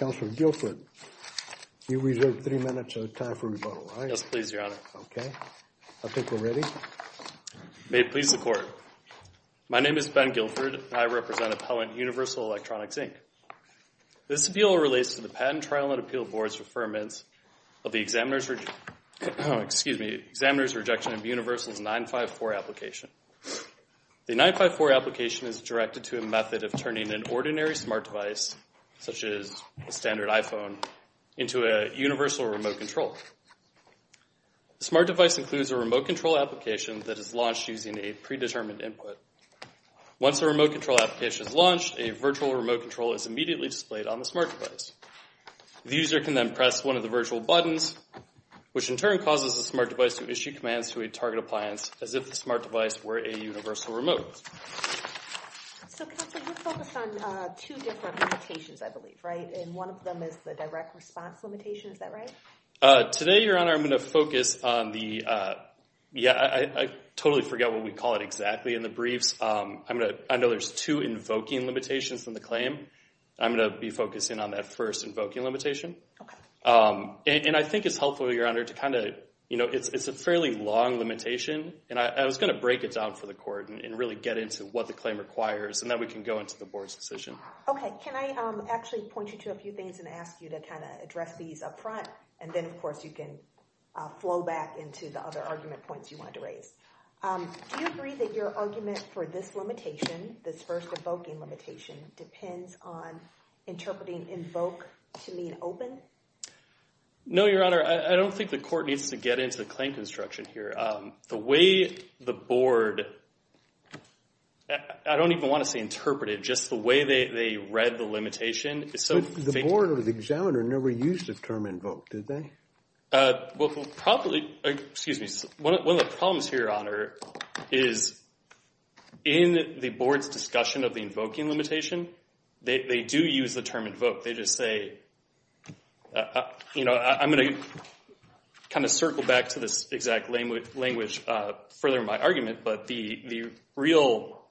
My name is Ben Guilford, and I represent Appellant Universal Electronics, Inc. This appeal relates to the Patent Trial and Appeal Board's referments of the examiner's rejection of Universal's 954 application. The 954 application is directed to a method of turning an ordinary smart device, such as a standard iPhone, into a universal remote control. The smart device includes a remote control application that is launched using a predetermined input. Once a remote control application is launched, a virtual remote control is immediately displayed on the smart device. The user can then press one of the virtual buttons, which in turn causes the smart device to issue commands to a target appliance as if the smart device were a universal remote. So Counselor, you focus on two different limitations, I believe, right, and one of them is the direct response limitation. Is that right? Today, Your Honor, I'm going to focus on the, yeah, I totally forget what we call it exactly in the briefs. I'm going to, I know there's two invoking limitations in the claim. I'm going to be focusing on that first invoking limitation. Okay. And I think it's helpful, Your Honor, to kind of, you know, it's a fairly long limitation, and I was going to break it down for the court and really get into what the claim requires, and then we can go into the board's decision. Okay. Can I actually point you to a few things and ask you to kind of address these up front, and then of course you can flow back into the other argument points you wanted to raise. Do you agree that your argument for this limitation, this first invoking limitation, depends on interpreting invoke to mean open? No, Your Honor, I don't think the court needs to get into the claim construction here. The way the board, I don't even want to say interpreted, just the way they read the limitation is so faint. The board or the examiner never used the term invoke, did they? Well, probably, excuse me, one of the problems here, Your Honor, is in the board's discussion of the invoking limitation, they do use the term invoke, they just say, you know, I'm going to kind of circle back to this exact language further in my argument, but the real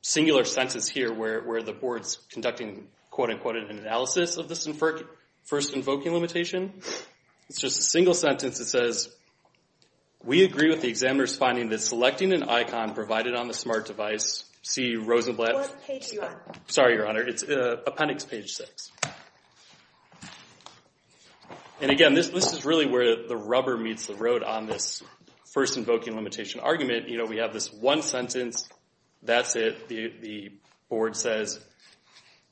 singular sentence here where the board's conducting quote-unquote an analysis of this first invoking limitation, it's just a single sentence that says, we agree with the examiner's finding that selecting an icon provided on the smart device, see Rosenblatt, sorry, Your Honor, it's appendix page six, and again, this is really where the rubber meets the road on this first invoking limitation argument, you know, we have this one sentence, that's it, the board says,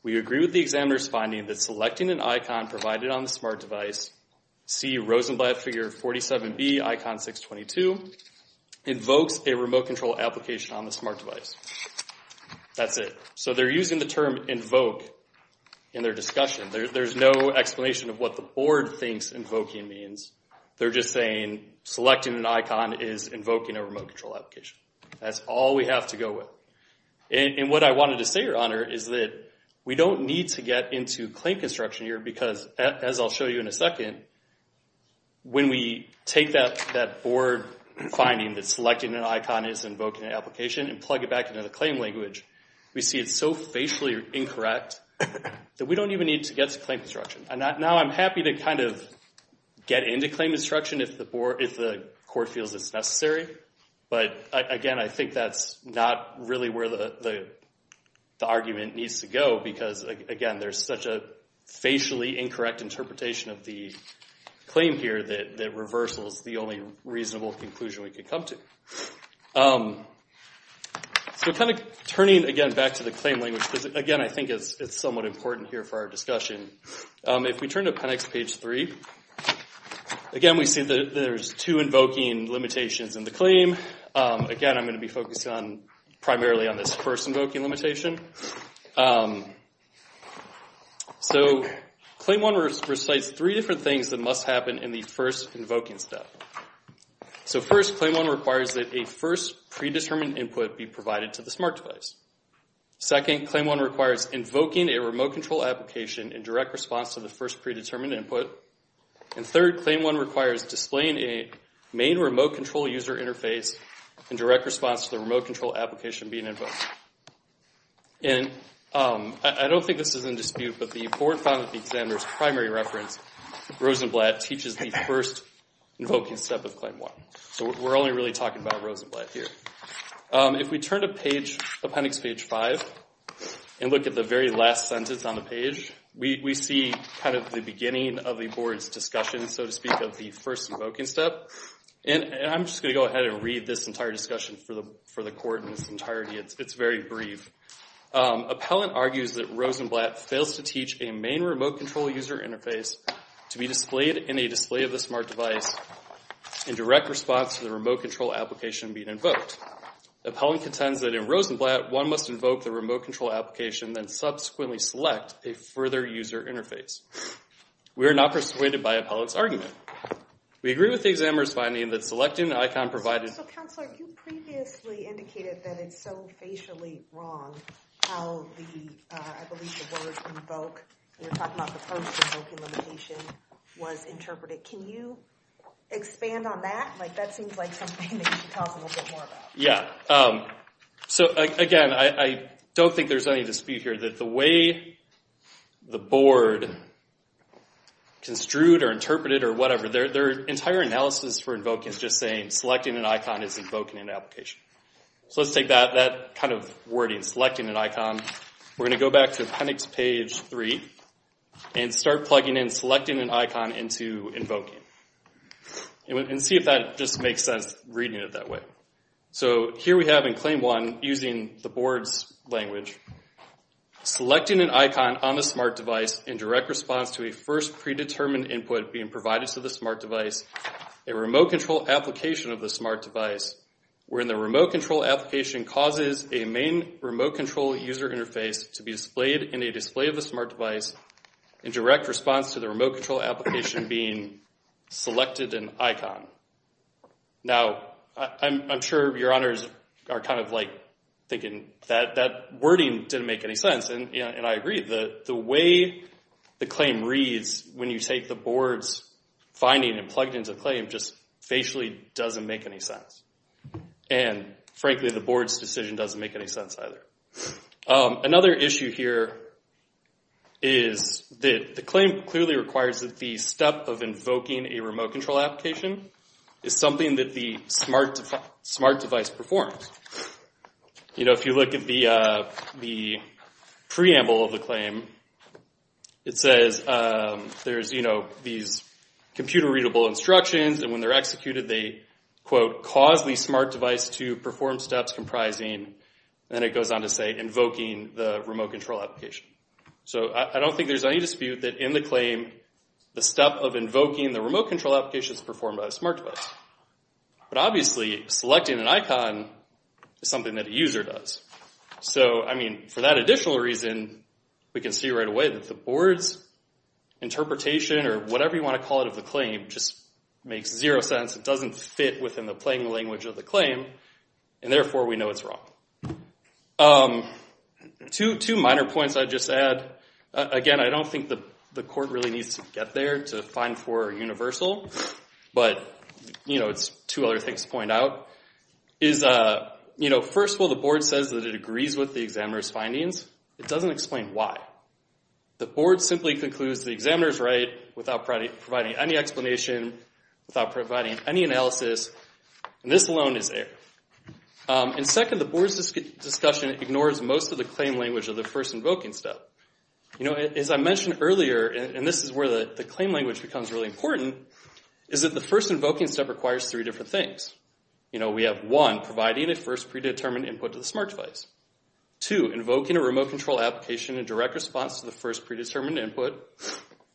we agree with the examiner's finding that selecting an icon provided on the smart device invokes a remote control application on the smart device, that's it, so they're using the term invoke in their discussion, there's no explanation of what the board thinks invoking means, they're just saying selecting an icon is invoking a remote control application, that's all we have to go with, and what I wanted to say, Your Honor, is that we don't need to get into claim construction here because, as I'll show you in a second, when we take that board finding that selecting an icon is invoking an application and plug it back into the claim language, we see it's so facially incorrect that we don't even need to get to claim construction, and now I'm happy to kind of get into claim construction if the court feels it's necessary, but again, I think that's not really where the argument needs to go because, again, there's such a facially incorrect interpretation of the claim here that reversal is the only reasonable conclusion we could come to. So kind of turning again back to the claim language, because again, I think it's somewhat important here for our discussion, if we turn to PENX page three, again, we see that there's two invoking limitations in the claim, again, I'm going to be focusing primarily on this first invoking limitation. So claim one recites three different things that must happen in the first invoking step. So first, claim one requires that a first predetermined input be provided to the smart device. Second, claim one requires invoking a remote control application in direct response to the first predetermined input, and third, claim one requires displaying a main remote control user interface in direct response to the remote control application being invoked. And I don't think this is in dispute, but the board found that the examiner's primary reference, Rosenblatt, teaches the first invoking step of claim one. So we're only really talking about Rosenblatt here. If we turn to PENX page five and look at the very last sentence on the page, we see kind of the beginning of the board's discussion, so to speak, of the first invoking step. And I'm just going to go ahead and read this entire discussion for the court in its entirety. It's very brief. Appellant argues that Rosenblatt fails to teach a main remote control user interface to be displayed in a display of the smart device in direct response to the remote control application being invoked. Appellant contends that in Rosenblatt, one must invoke the remote control application then subsequently select a further user interface. We are not persuaded by Appellant's argument. We agree with the examiner's finding that selecting the icon provided. So, Counselor, you previously indicated that it's so facially wrong how the, I believe the word invoke, you're talking about the first invoking limitation, was interpreted. Can you expand on that? Like, that seems like something that you should talk a little bit more about. Yeah. So, again, I don't think there's any dispute here that the way the board construed or whatever, their entire analysis for invoking is just saying selecting an icon is invoking an application. So, let's take that kind of wording, selecting an icon, we're going to go back to appendix page three and start plugging in selecting an icon into invoking and see if that just makes sense reading it that way. So, here we have in claim one, using the board's language, selecting an icon on the smart device in direct response to a first predetermined input being provided to the smart device, a remote control application of the smart device, wherein the remote control application causes a main remote control user interface to be displayed in a display of the smart device in direct response to the remote control application being selected an icon. Now, I'm sure your honors are kind of like thinking that that wording didn't make any sense. And I agree. The way the claim reads when you take the board's finding and plug it into the claim just facially doesn't make any sense. And frankly, the board's decision doesn't make any sense either. Another issue here is that the claim clearly requires that the step of invoking a remote control application is something that the smart device performs. You know, if you look at the preamble of the claim, it says there's, you know, these computer readable instructions and when they're executed they, quote, cause the smart device to perform steps comprising, and it goes on to say, invoking the remote control application. So I don't think there's any dispute that in the claim, the step of invoking the remote control application is performed by the smart device. But obviously, selecting an icon is something that a user does. So I mean, for that additional reason, we can see right away that the board's interpretation or whatever you want to call it of the claim just makes zero sense. It doesn't fit within the plain language of the claim, and therefore we know it's wrong. Two minor points I'd just add, again, I don't think the court really needs to get there to find four universal, but, you know, it's two other things to point out, is, you know, first of all, the board says that it agrees with the examiner's findings. It doesn't explain why. The board simply concludes the examiner's right without providing any explanation, without providing any analysis, and this alone is error. And second, the board's discussion ignores most of the claim language of the first invoking step. You know, as I mentioned earlier, and this is where the claim language becomes really important, is that the first invoking step requires three different things. You know, we have one, providing a first predetermined input to the smart device. Two, invoking a remote control application in direct response to the first predetermined input.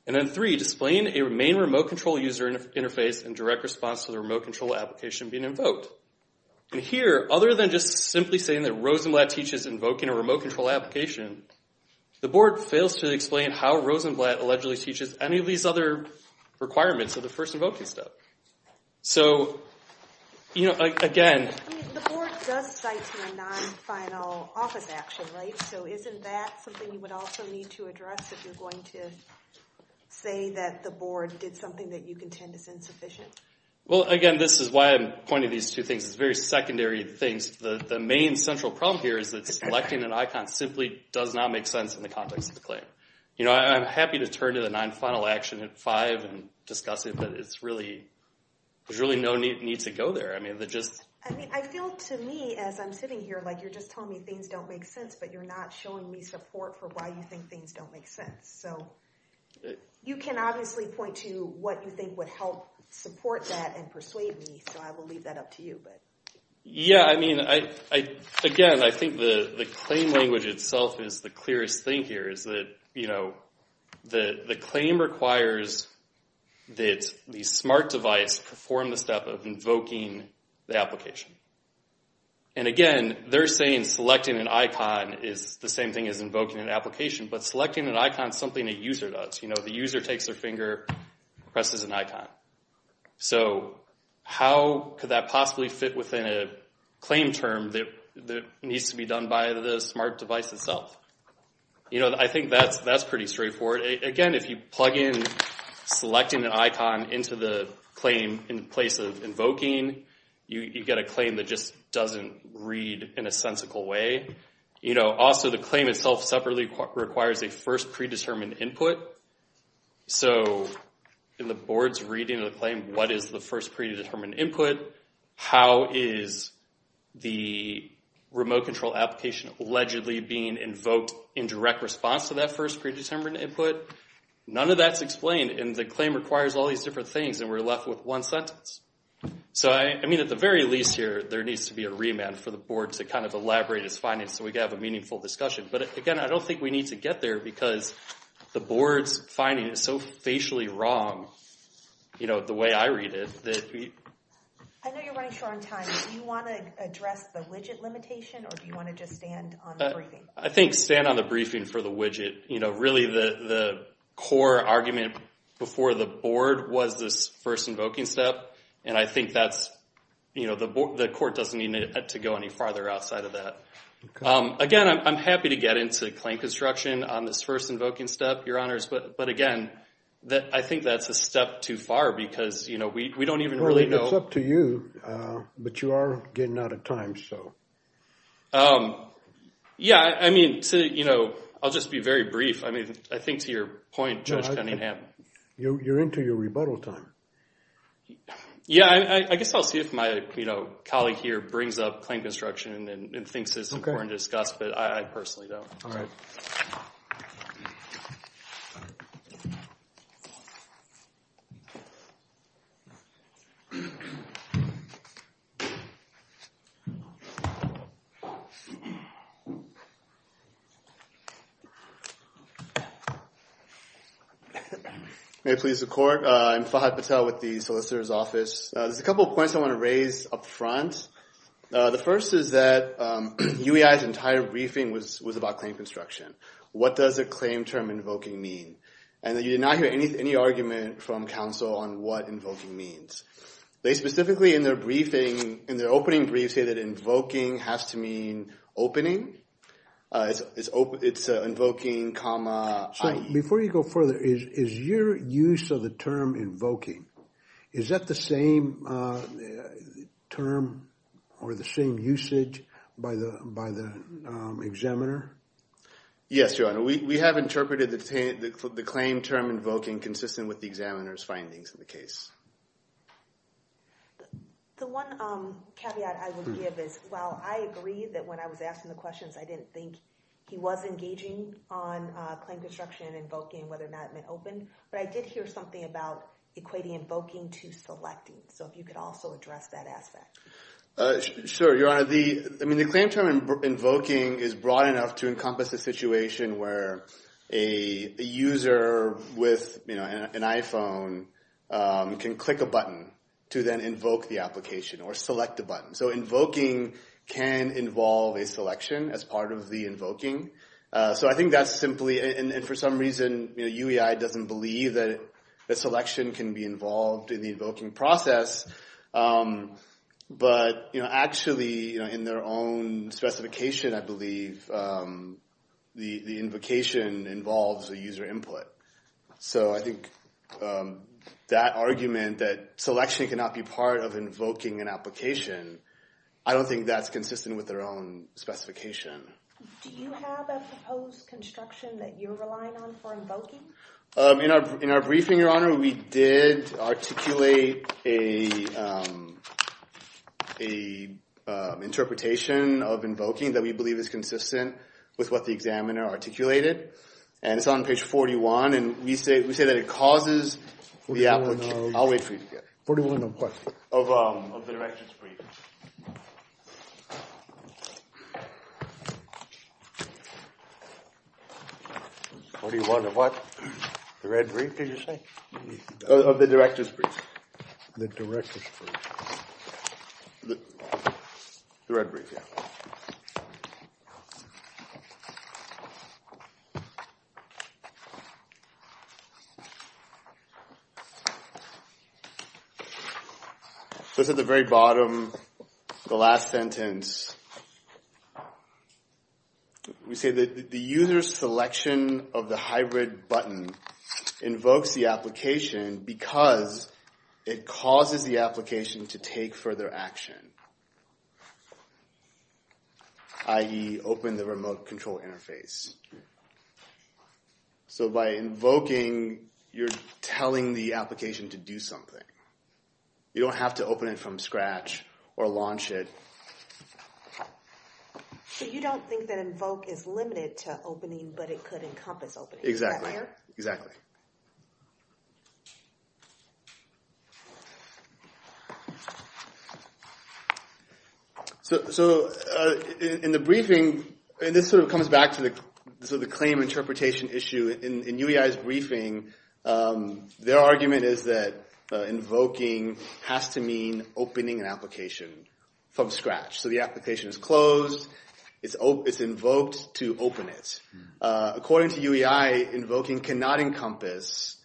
And then three, displaying a main remote control user interface in direct response to the remote control application being invoked. And here, other than just simply saying that Rosenblatt teaches invoking a remote control application, the board fails to explain how Rosenblatt allegedly teaches any of these other requirements of the first invoking step. So, you know, again... I mean, the board does cite to a non-final office action, right? So isn't that something you would also need to address if you're going to say that the board did something that you contend is insufficient? Well, again, this is why I'm pointing these two things. It's very secondary things. The main central problem here is that selecting an icon simply does not make sense in the context of the claim. You know, I'm happy to turn to the non-final action at five and discuss it, but it's really... There's really no need to go there. I mean, the just... I mean, I feel to me, as I'm sitting here, like you're just telling me things don't make sense, but you're not showing me support for why you think things don't make sense. So you can obviously point to what you think would help support that and persuade me, so I will leave that up to you. Yeah, I mean, again, I think the claim language itself is the clearest thing here is that, you know, the claim requires that the smart device perform the step of invoking the application. And again, they're saying selecting an icon is the same thing as invoking an application, but selecting an icon is something a user does. You know, the user takes their finger, presses an icon. So how could that possibly fit within a claim term that needs to be done by the smart device itself? You know, I think that's pretty straightforward. Again, if you plug in selecting an icon into the claim in place of invoking, you get a claim that just doesn't read in a sensical way. You know, also the claim itself separately requires a first predetermined input. So in the board's reading of the claim, what is the first predetermined input? How is the remote control application allegedly being invoked in direct response to that first predetermined input? None of that's explained, and the claim requires all these different things, and we're left with one sentence. So I mean, at the very least here, there needs to be a remand for the board to kind of elaborate its findings so we can have a meaningful discussion. But again, I don't think we need to get there because the board's finding is so facially wrong, you know, the way I read it. I know you're running short on time. Do you want to address the widget limitation, or do you want to just stand on the briefing? I think stand on the briefing for the widget. You know, really the core argument before the board was this first invoking step, and I think that's, you know, the court doesn't need to go any farther outside of that. Again, I'm happy to get into claim construction on this first invoking step, Your Honors, but again, I think that's a step too far because, you know, we don't even really know. Well, it's up to you, but you are getting out of time, so. Yeah, I mean, you know, I'll just be very brief. I mean, I think to your point, Judge Cunningham. You're into your rebuttal time. Yeah, I guess I'll see if my, you know, colleague here brings up claim construction and thinks it's important. It's important to discuss, but I personally don't. All right. May it please the court, I'm Fahad Patel with the Solicitor's Office. There's a couple of points I want to raise up front. The first is that UEI's entire briefing was about claim construction. What does a claim term invoking mean? And you did not hear any argument from counsel on what invoking means. They specifically, in their briefing, in their opening brief, say that invoking has to mean opening. It's invoking, comma, IE. So, before you go further, is your use of the term invoking, is that the same term or the same usage by the examiner? Yes, Your Honor, we have interpreted the claim term invoking consistent with the examiner's findings in the case. The one caveat I would give is, while I agree that when I was asking the questions, I didn't think he was engaging on claim construction and invoking, whether or not it meant open, but I did hear something about equating invoking to selecting. So, if you could also address that aspect. Sure, Your Honor. I mean, the claim term invoking is broad enough to encompass a situation where a user with an iPhone can click a button to then invoke the application or select a button. So, I think that's simply, and for some reason, UEI doesn't believe that selection can be involved in the invoking process. But, actually, in their own specification, I believe the invocation involves a user input. So, I think that argument that selection cannot be part of invoking an application, I don't think that's consistent with their own specification. Do you have a proposed construction that you're relying on for invoking? In our briefing, Your Honor, we did articulate an interpretation of invoking that we believe is consistent with what the examiner articulated. And it's on page 41. And we say that it causes the application. I'll wait for you to get it. 41 of what? Of the directions brief. The red brief, yeah. So, it's at the very bottom, the last sentence. I believe the application is consistent with what the examiner articulated. We say that the user's selection of the hybrid button invokes the application because it causes the application to take further action, i.e. open the remote control interface. So, by invoking, you're telling the application to do something. You don't have to open it from scratch or launch it. So, you don't think that invoke is limited to opening, but it could encompass opening, is that fair? Exactly. So, in the briefing, and this sort of comes back to the claim interpretation issue. In UEI's briefing, their argument is that invoking has to mean opening an application from scratch. So, the application is closed, it's invoked to open it. According to UEI, invoking cannot encompass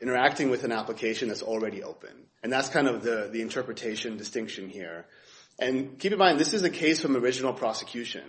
interacting with an application that's already open. And that's kind of the interpretation distinction here. And keep in mind, this is a case from original prosecution.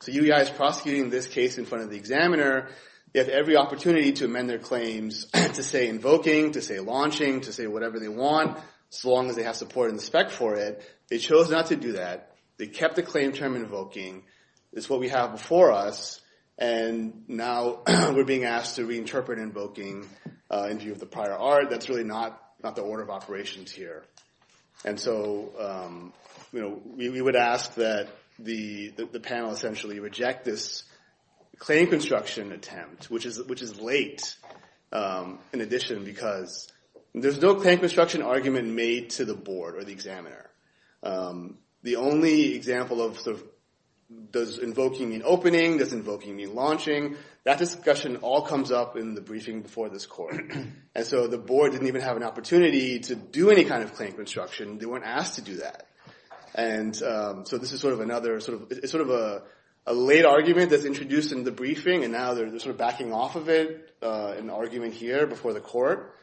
So, UEI is prosecuting this case in front of the examiner. They have every opportunity to amend their claims to say invoking, to say launching, to say whatever they want, so long as they have support in the spec for it. They chose not to do that. They kept the claim term invoking. It's what we have before us. And now, we're being asked to reinterpret invoking in view of the prior art. That's really not the order of operations here. And so, we would ask that the panel essentially reject this claim construction attempt, which is late in addition because there's no claim construction argument made to the board or the examiner. The only example of sort of does invoking mean opening, does invoking mean launching, that discussion all comes up in the briefing before this court. And so, the board didn't even have an opportunity to do any kind of claim construction. They weren't asked to do that. And so, this is sort of another sort of a late argument that's introduced in the briefing, and now they're sort of backing off of it in the argument here before the court.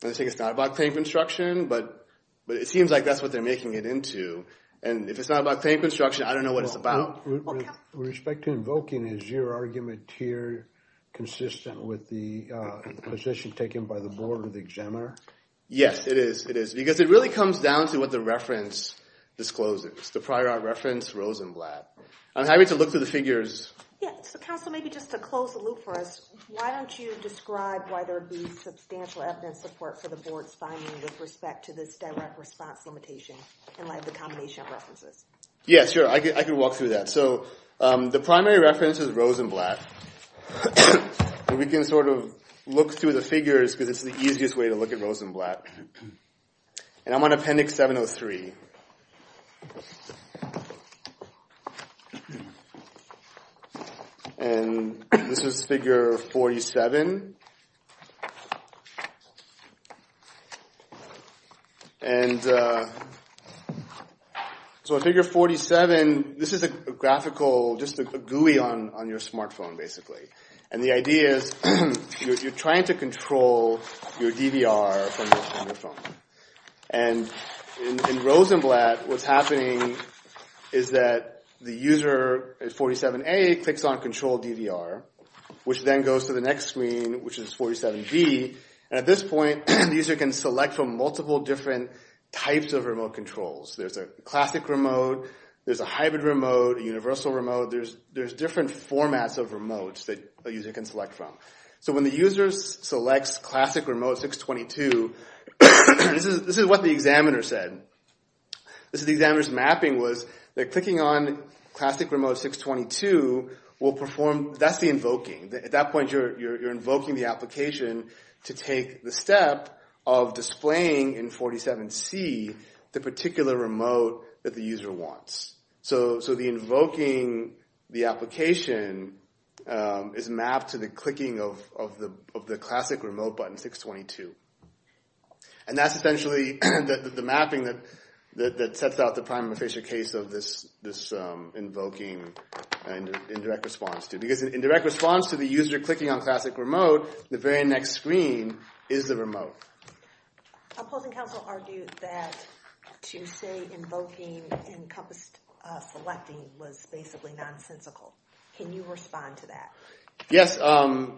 They say it's not about claim construction, but it seems like that's what they're making it into. And if it's not about claim construction, I don't know what it's about. With respect to invoking, is your argument here consistent with the position taken by the board or the examiner? Yes, it is. It is. Because it really comes down to what the reference discloses, the prior art reference Rosenblatt. I'm happy to look through the figures. Yeah. So, counsel, maybe just to close the loop for us, why don't you describe why there would be substantial evidence support for the board's finding with respect to this direct response limitation in light of the combination of references? Yeah, sure. I can walk through that. So, the primary reference is Rosenblatt. We can sort of look through the figures because it's the easiest way to look at Rosenblatt. And I'm on Appendix 703. And this is Figure 47. And so in Figure 47, this is a graphical, just a GUI on your smartphone, basically. And the idea is you're trying to control your DVR from your phone. And in Rosenblatt, what's happening is that the user at 47A clicks on Control DVR, which then goes to the next screen, which is 47B. And at this point, the user can select from multiple different types of remote controls. There's a classic remote. There's a hybrid remote, a universal remote. There's different formats of remotes that a user can select from. So when the user selects classic remote 622, this is what the examiner said. The examiner's mapping was they're clicking on classic remote 622. That's the invoking. At that point, you're invoking the application to take the step of displaying in 47C the particular remote that the user wants. So the invoking the application is mapped to the clicking of the classic remote button 622. And that's essentially the mapping that sets out the prima facie case of this invoking and indirect response. Because in direct response to the user clicking on classic remote, the very next screen is the remote. A opposing counsel argued that to say invoking encompassed selecting was basically nonsensical. Can you respond to that? Yes. So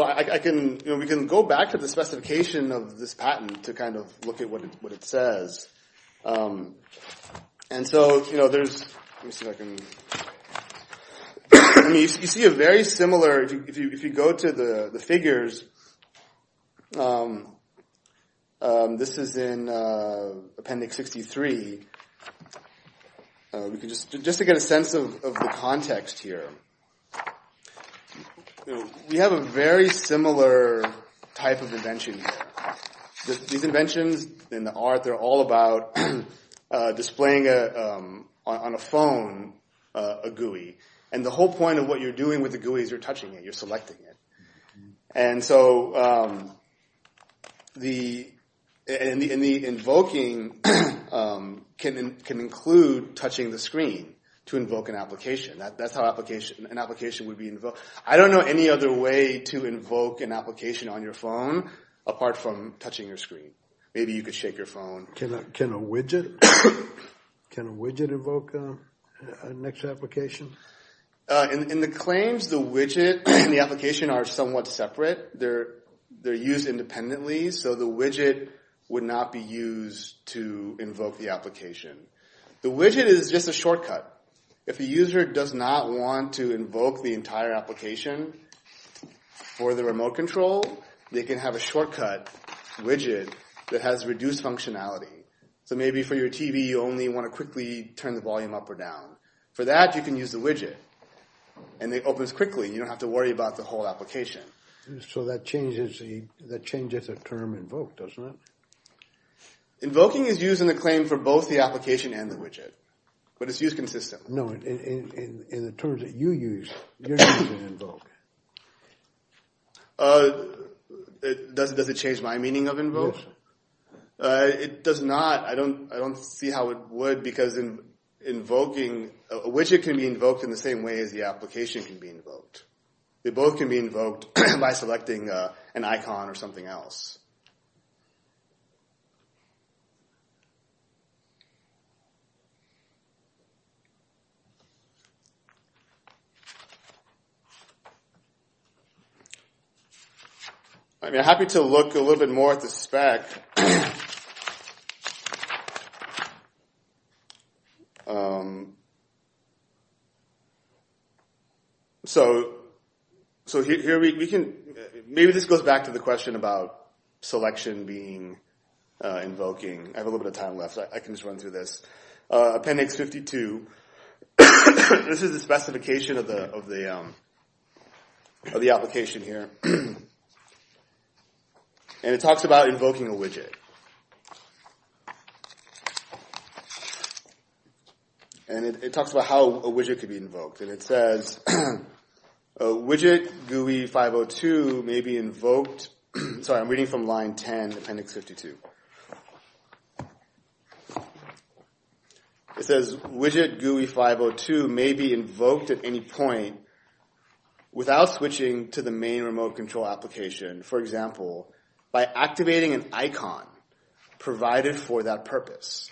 we can go back to the specification of this patent to kind of look at what it says. And so there's—let me see if I can— You see a very similar—if you go to the figures, this is in Appendix 63. Just to get a sense of the context here, we have a very similar type of invention here. These inventions in the art, they're all about displaying on a phone a GUI. And the whole point of what you're doing with the GUI is you're touching it. You're selecting it. And so the invoking can include touching the screen to invoke an application. That's how an application would be invoked. I don't know any other way to invoke an application on your phone apart from touching your screen. Maybe you could shake your phone. Can a widget invoke an extra application? In the claims, the widget and the application are somewhat separate. They're used independently, so the widget would not be used to invoke the application. The widget is just a shortcut. If a user does not want to invoke the entire application for the remote control, they can have a shortcut widget that has reduced functionality. So maybe for your TV, you only want to quickly turn the volume up or down. For that, you can use the widget, and it opens quickly. You don't have to worry about the whole application. So that changes the term invoke, doesn't it? Invoking is used in the claim for both the application and the widget, but it's used consistently. In the terms that you use, you're using invoke. Does it change my meaning of invoke? It does not. I don't see how it would, because a widget can be invoked in the same way as the application can be invoked. They both can be invoked by selecting an icon or something else. I'd be happy to look a little bit more at the spec. Maybe this goes back to the question about selection being invoking. I have a little bit of time left, so I can just run through this. Appendix 52, this is the specification of the application here. It talks about invoking a widget. It talks about how a widget can be invoked. It says, widget GUI 502 may be invoked at any point without switching to the main remote control application. For example, by activating an icon provided for that purpose.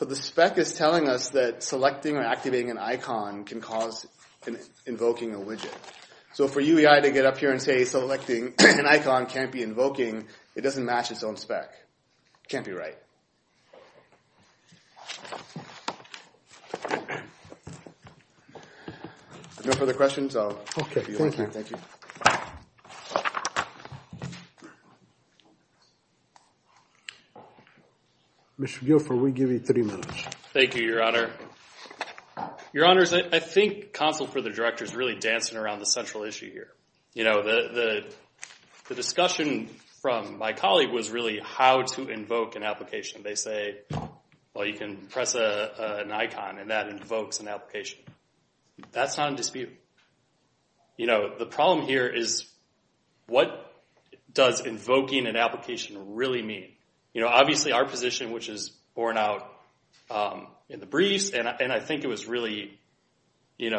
The spec is telling us that selecting or activating an icon can cause invoking a widget. For UEI to get up here and say selecting an icon can't be invoking, it doesn't match its own spec. It can't be right. No further questions? Okay, thank you. Mr. Guilford, we give you three minutes. Thank you, Your Honor. Your Honors, I think counsel for the Director is really dancing around the central issue here. The discussion from my colleague was really how to invoke an application. They say, well, you can press an icon and that invokes an application. That's not in dispute. The problem here is what does invoking an application really mean? Obviously, our position, which is borne out in the briefs, and I think it was really in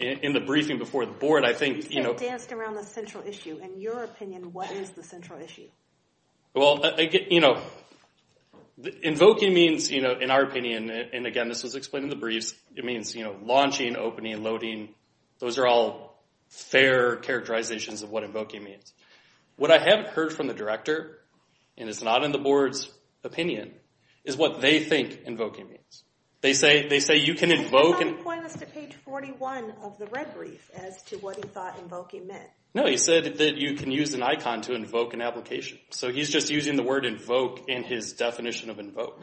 the briefing before the board. You said danced around the central issue. In your opinion, what is the central issue? Invoking means, in our opinion, and again, this was explained in the briefs, it means launching, opening, loading. Those are all fair characterizations of what invoking means. What I haven't heard from the Director, and it's not in the board's opinion, is what they think invoking means. They say you can invoke. Somebody pointed us to page 41 of the red brief as to what he thought invoking meant. No, he said that you can use an icon to invoke an application. He's just using the word invoke in his definition of invoke.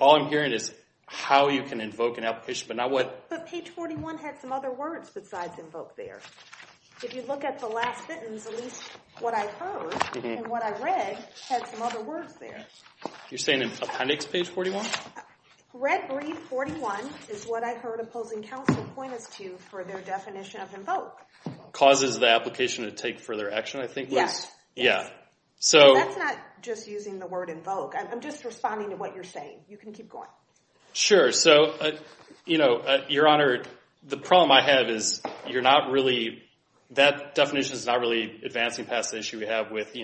All I'm hearing is how you can invoke an application. But page 41 had some other words besides invoke there. If you look at the last sentence, at least what I heard and what I read had some other words there. You're saying in appendix page 41? Red brief 41 is what I heard opposing counsel point us to for their definition of invoke. Causes the application to take further action, I think was? Yes. Yeah. That's not just using the word invoke. I'm just responding to what you're saying. You can keep going. Sure. Your Honor, the problem I have is that definition is not really advancing past the issue we have with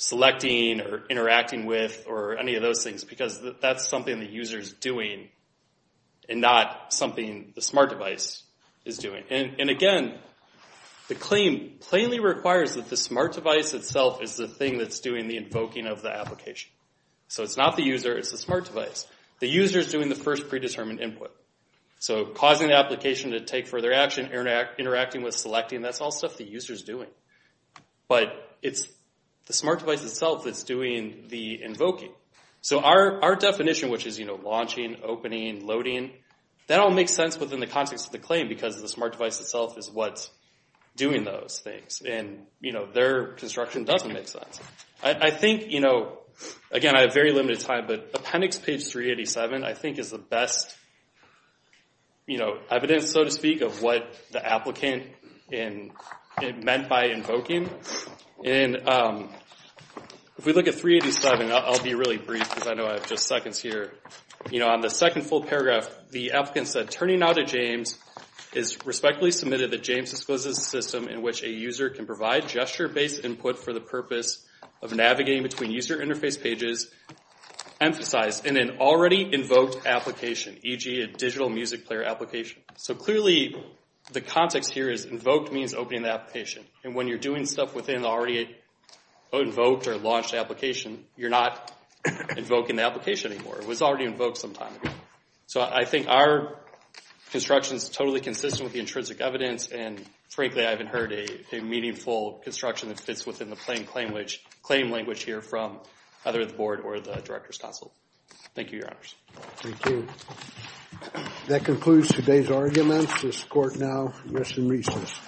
selecting or interacting with or any of those things, because that's something the user is doing and not something the smart device is doing. Again, the claim plainly requires that the smart device itself is the thing that's doing the invoking of the application. It's not the user. It's the smart device. The user is doing the first predetermined input. So causing the application to take further action, interacting with, selecting, that's all stuff the user is doing. But it's the smart device itself that's doing the invoking. So our definition, which is launching, opening, loading, that all makes sense within the context of the claim because the smart device itself is what's doing those things. And their construction doesn't make sense. I think, again, I have very limited time, but appendix page 387 I think is the best evidence, so to speak, of what the applicant meant by invoking. If we look at 387, I'll be really brief because I know I have just seconds here. On the second full paragraph, the applicant said, Turning now to James is respectfully submitted that James discloses a system in which a user can provide gesture-based input for the purpose of navigating between user interface pages emphasized in an already invoked application, e.g. a digital music player application. So clearly the context here is invoked means opening the application. And when you're doing stuff within the already invoked or launched application, you're not invoking the application anymore. It was already invoked some time ago. So I think our construction is totally consistent with the intrinsic evidence. And frankly, I haven't heard a meaningful construction that fits within the plain claim language here from either the board or the Director's Council. Thank you, Your Honors. Thank you. That concludes today's arguments. This court now rests in recess.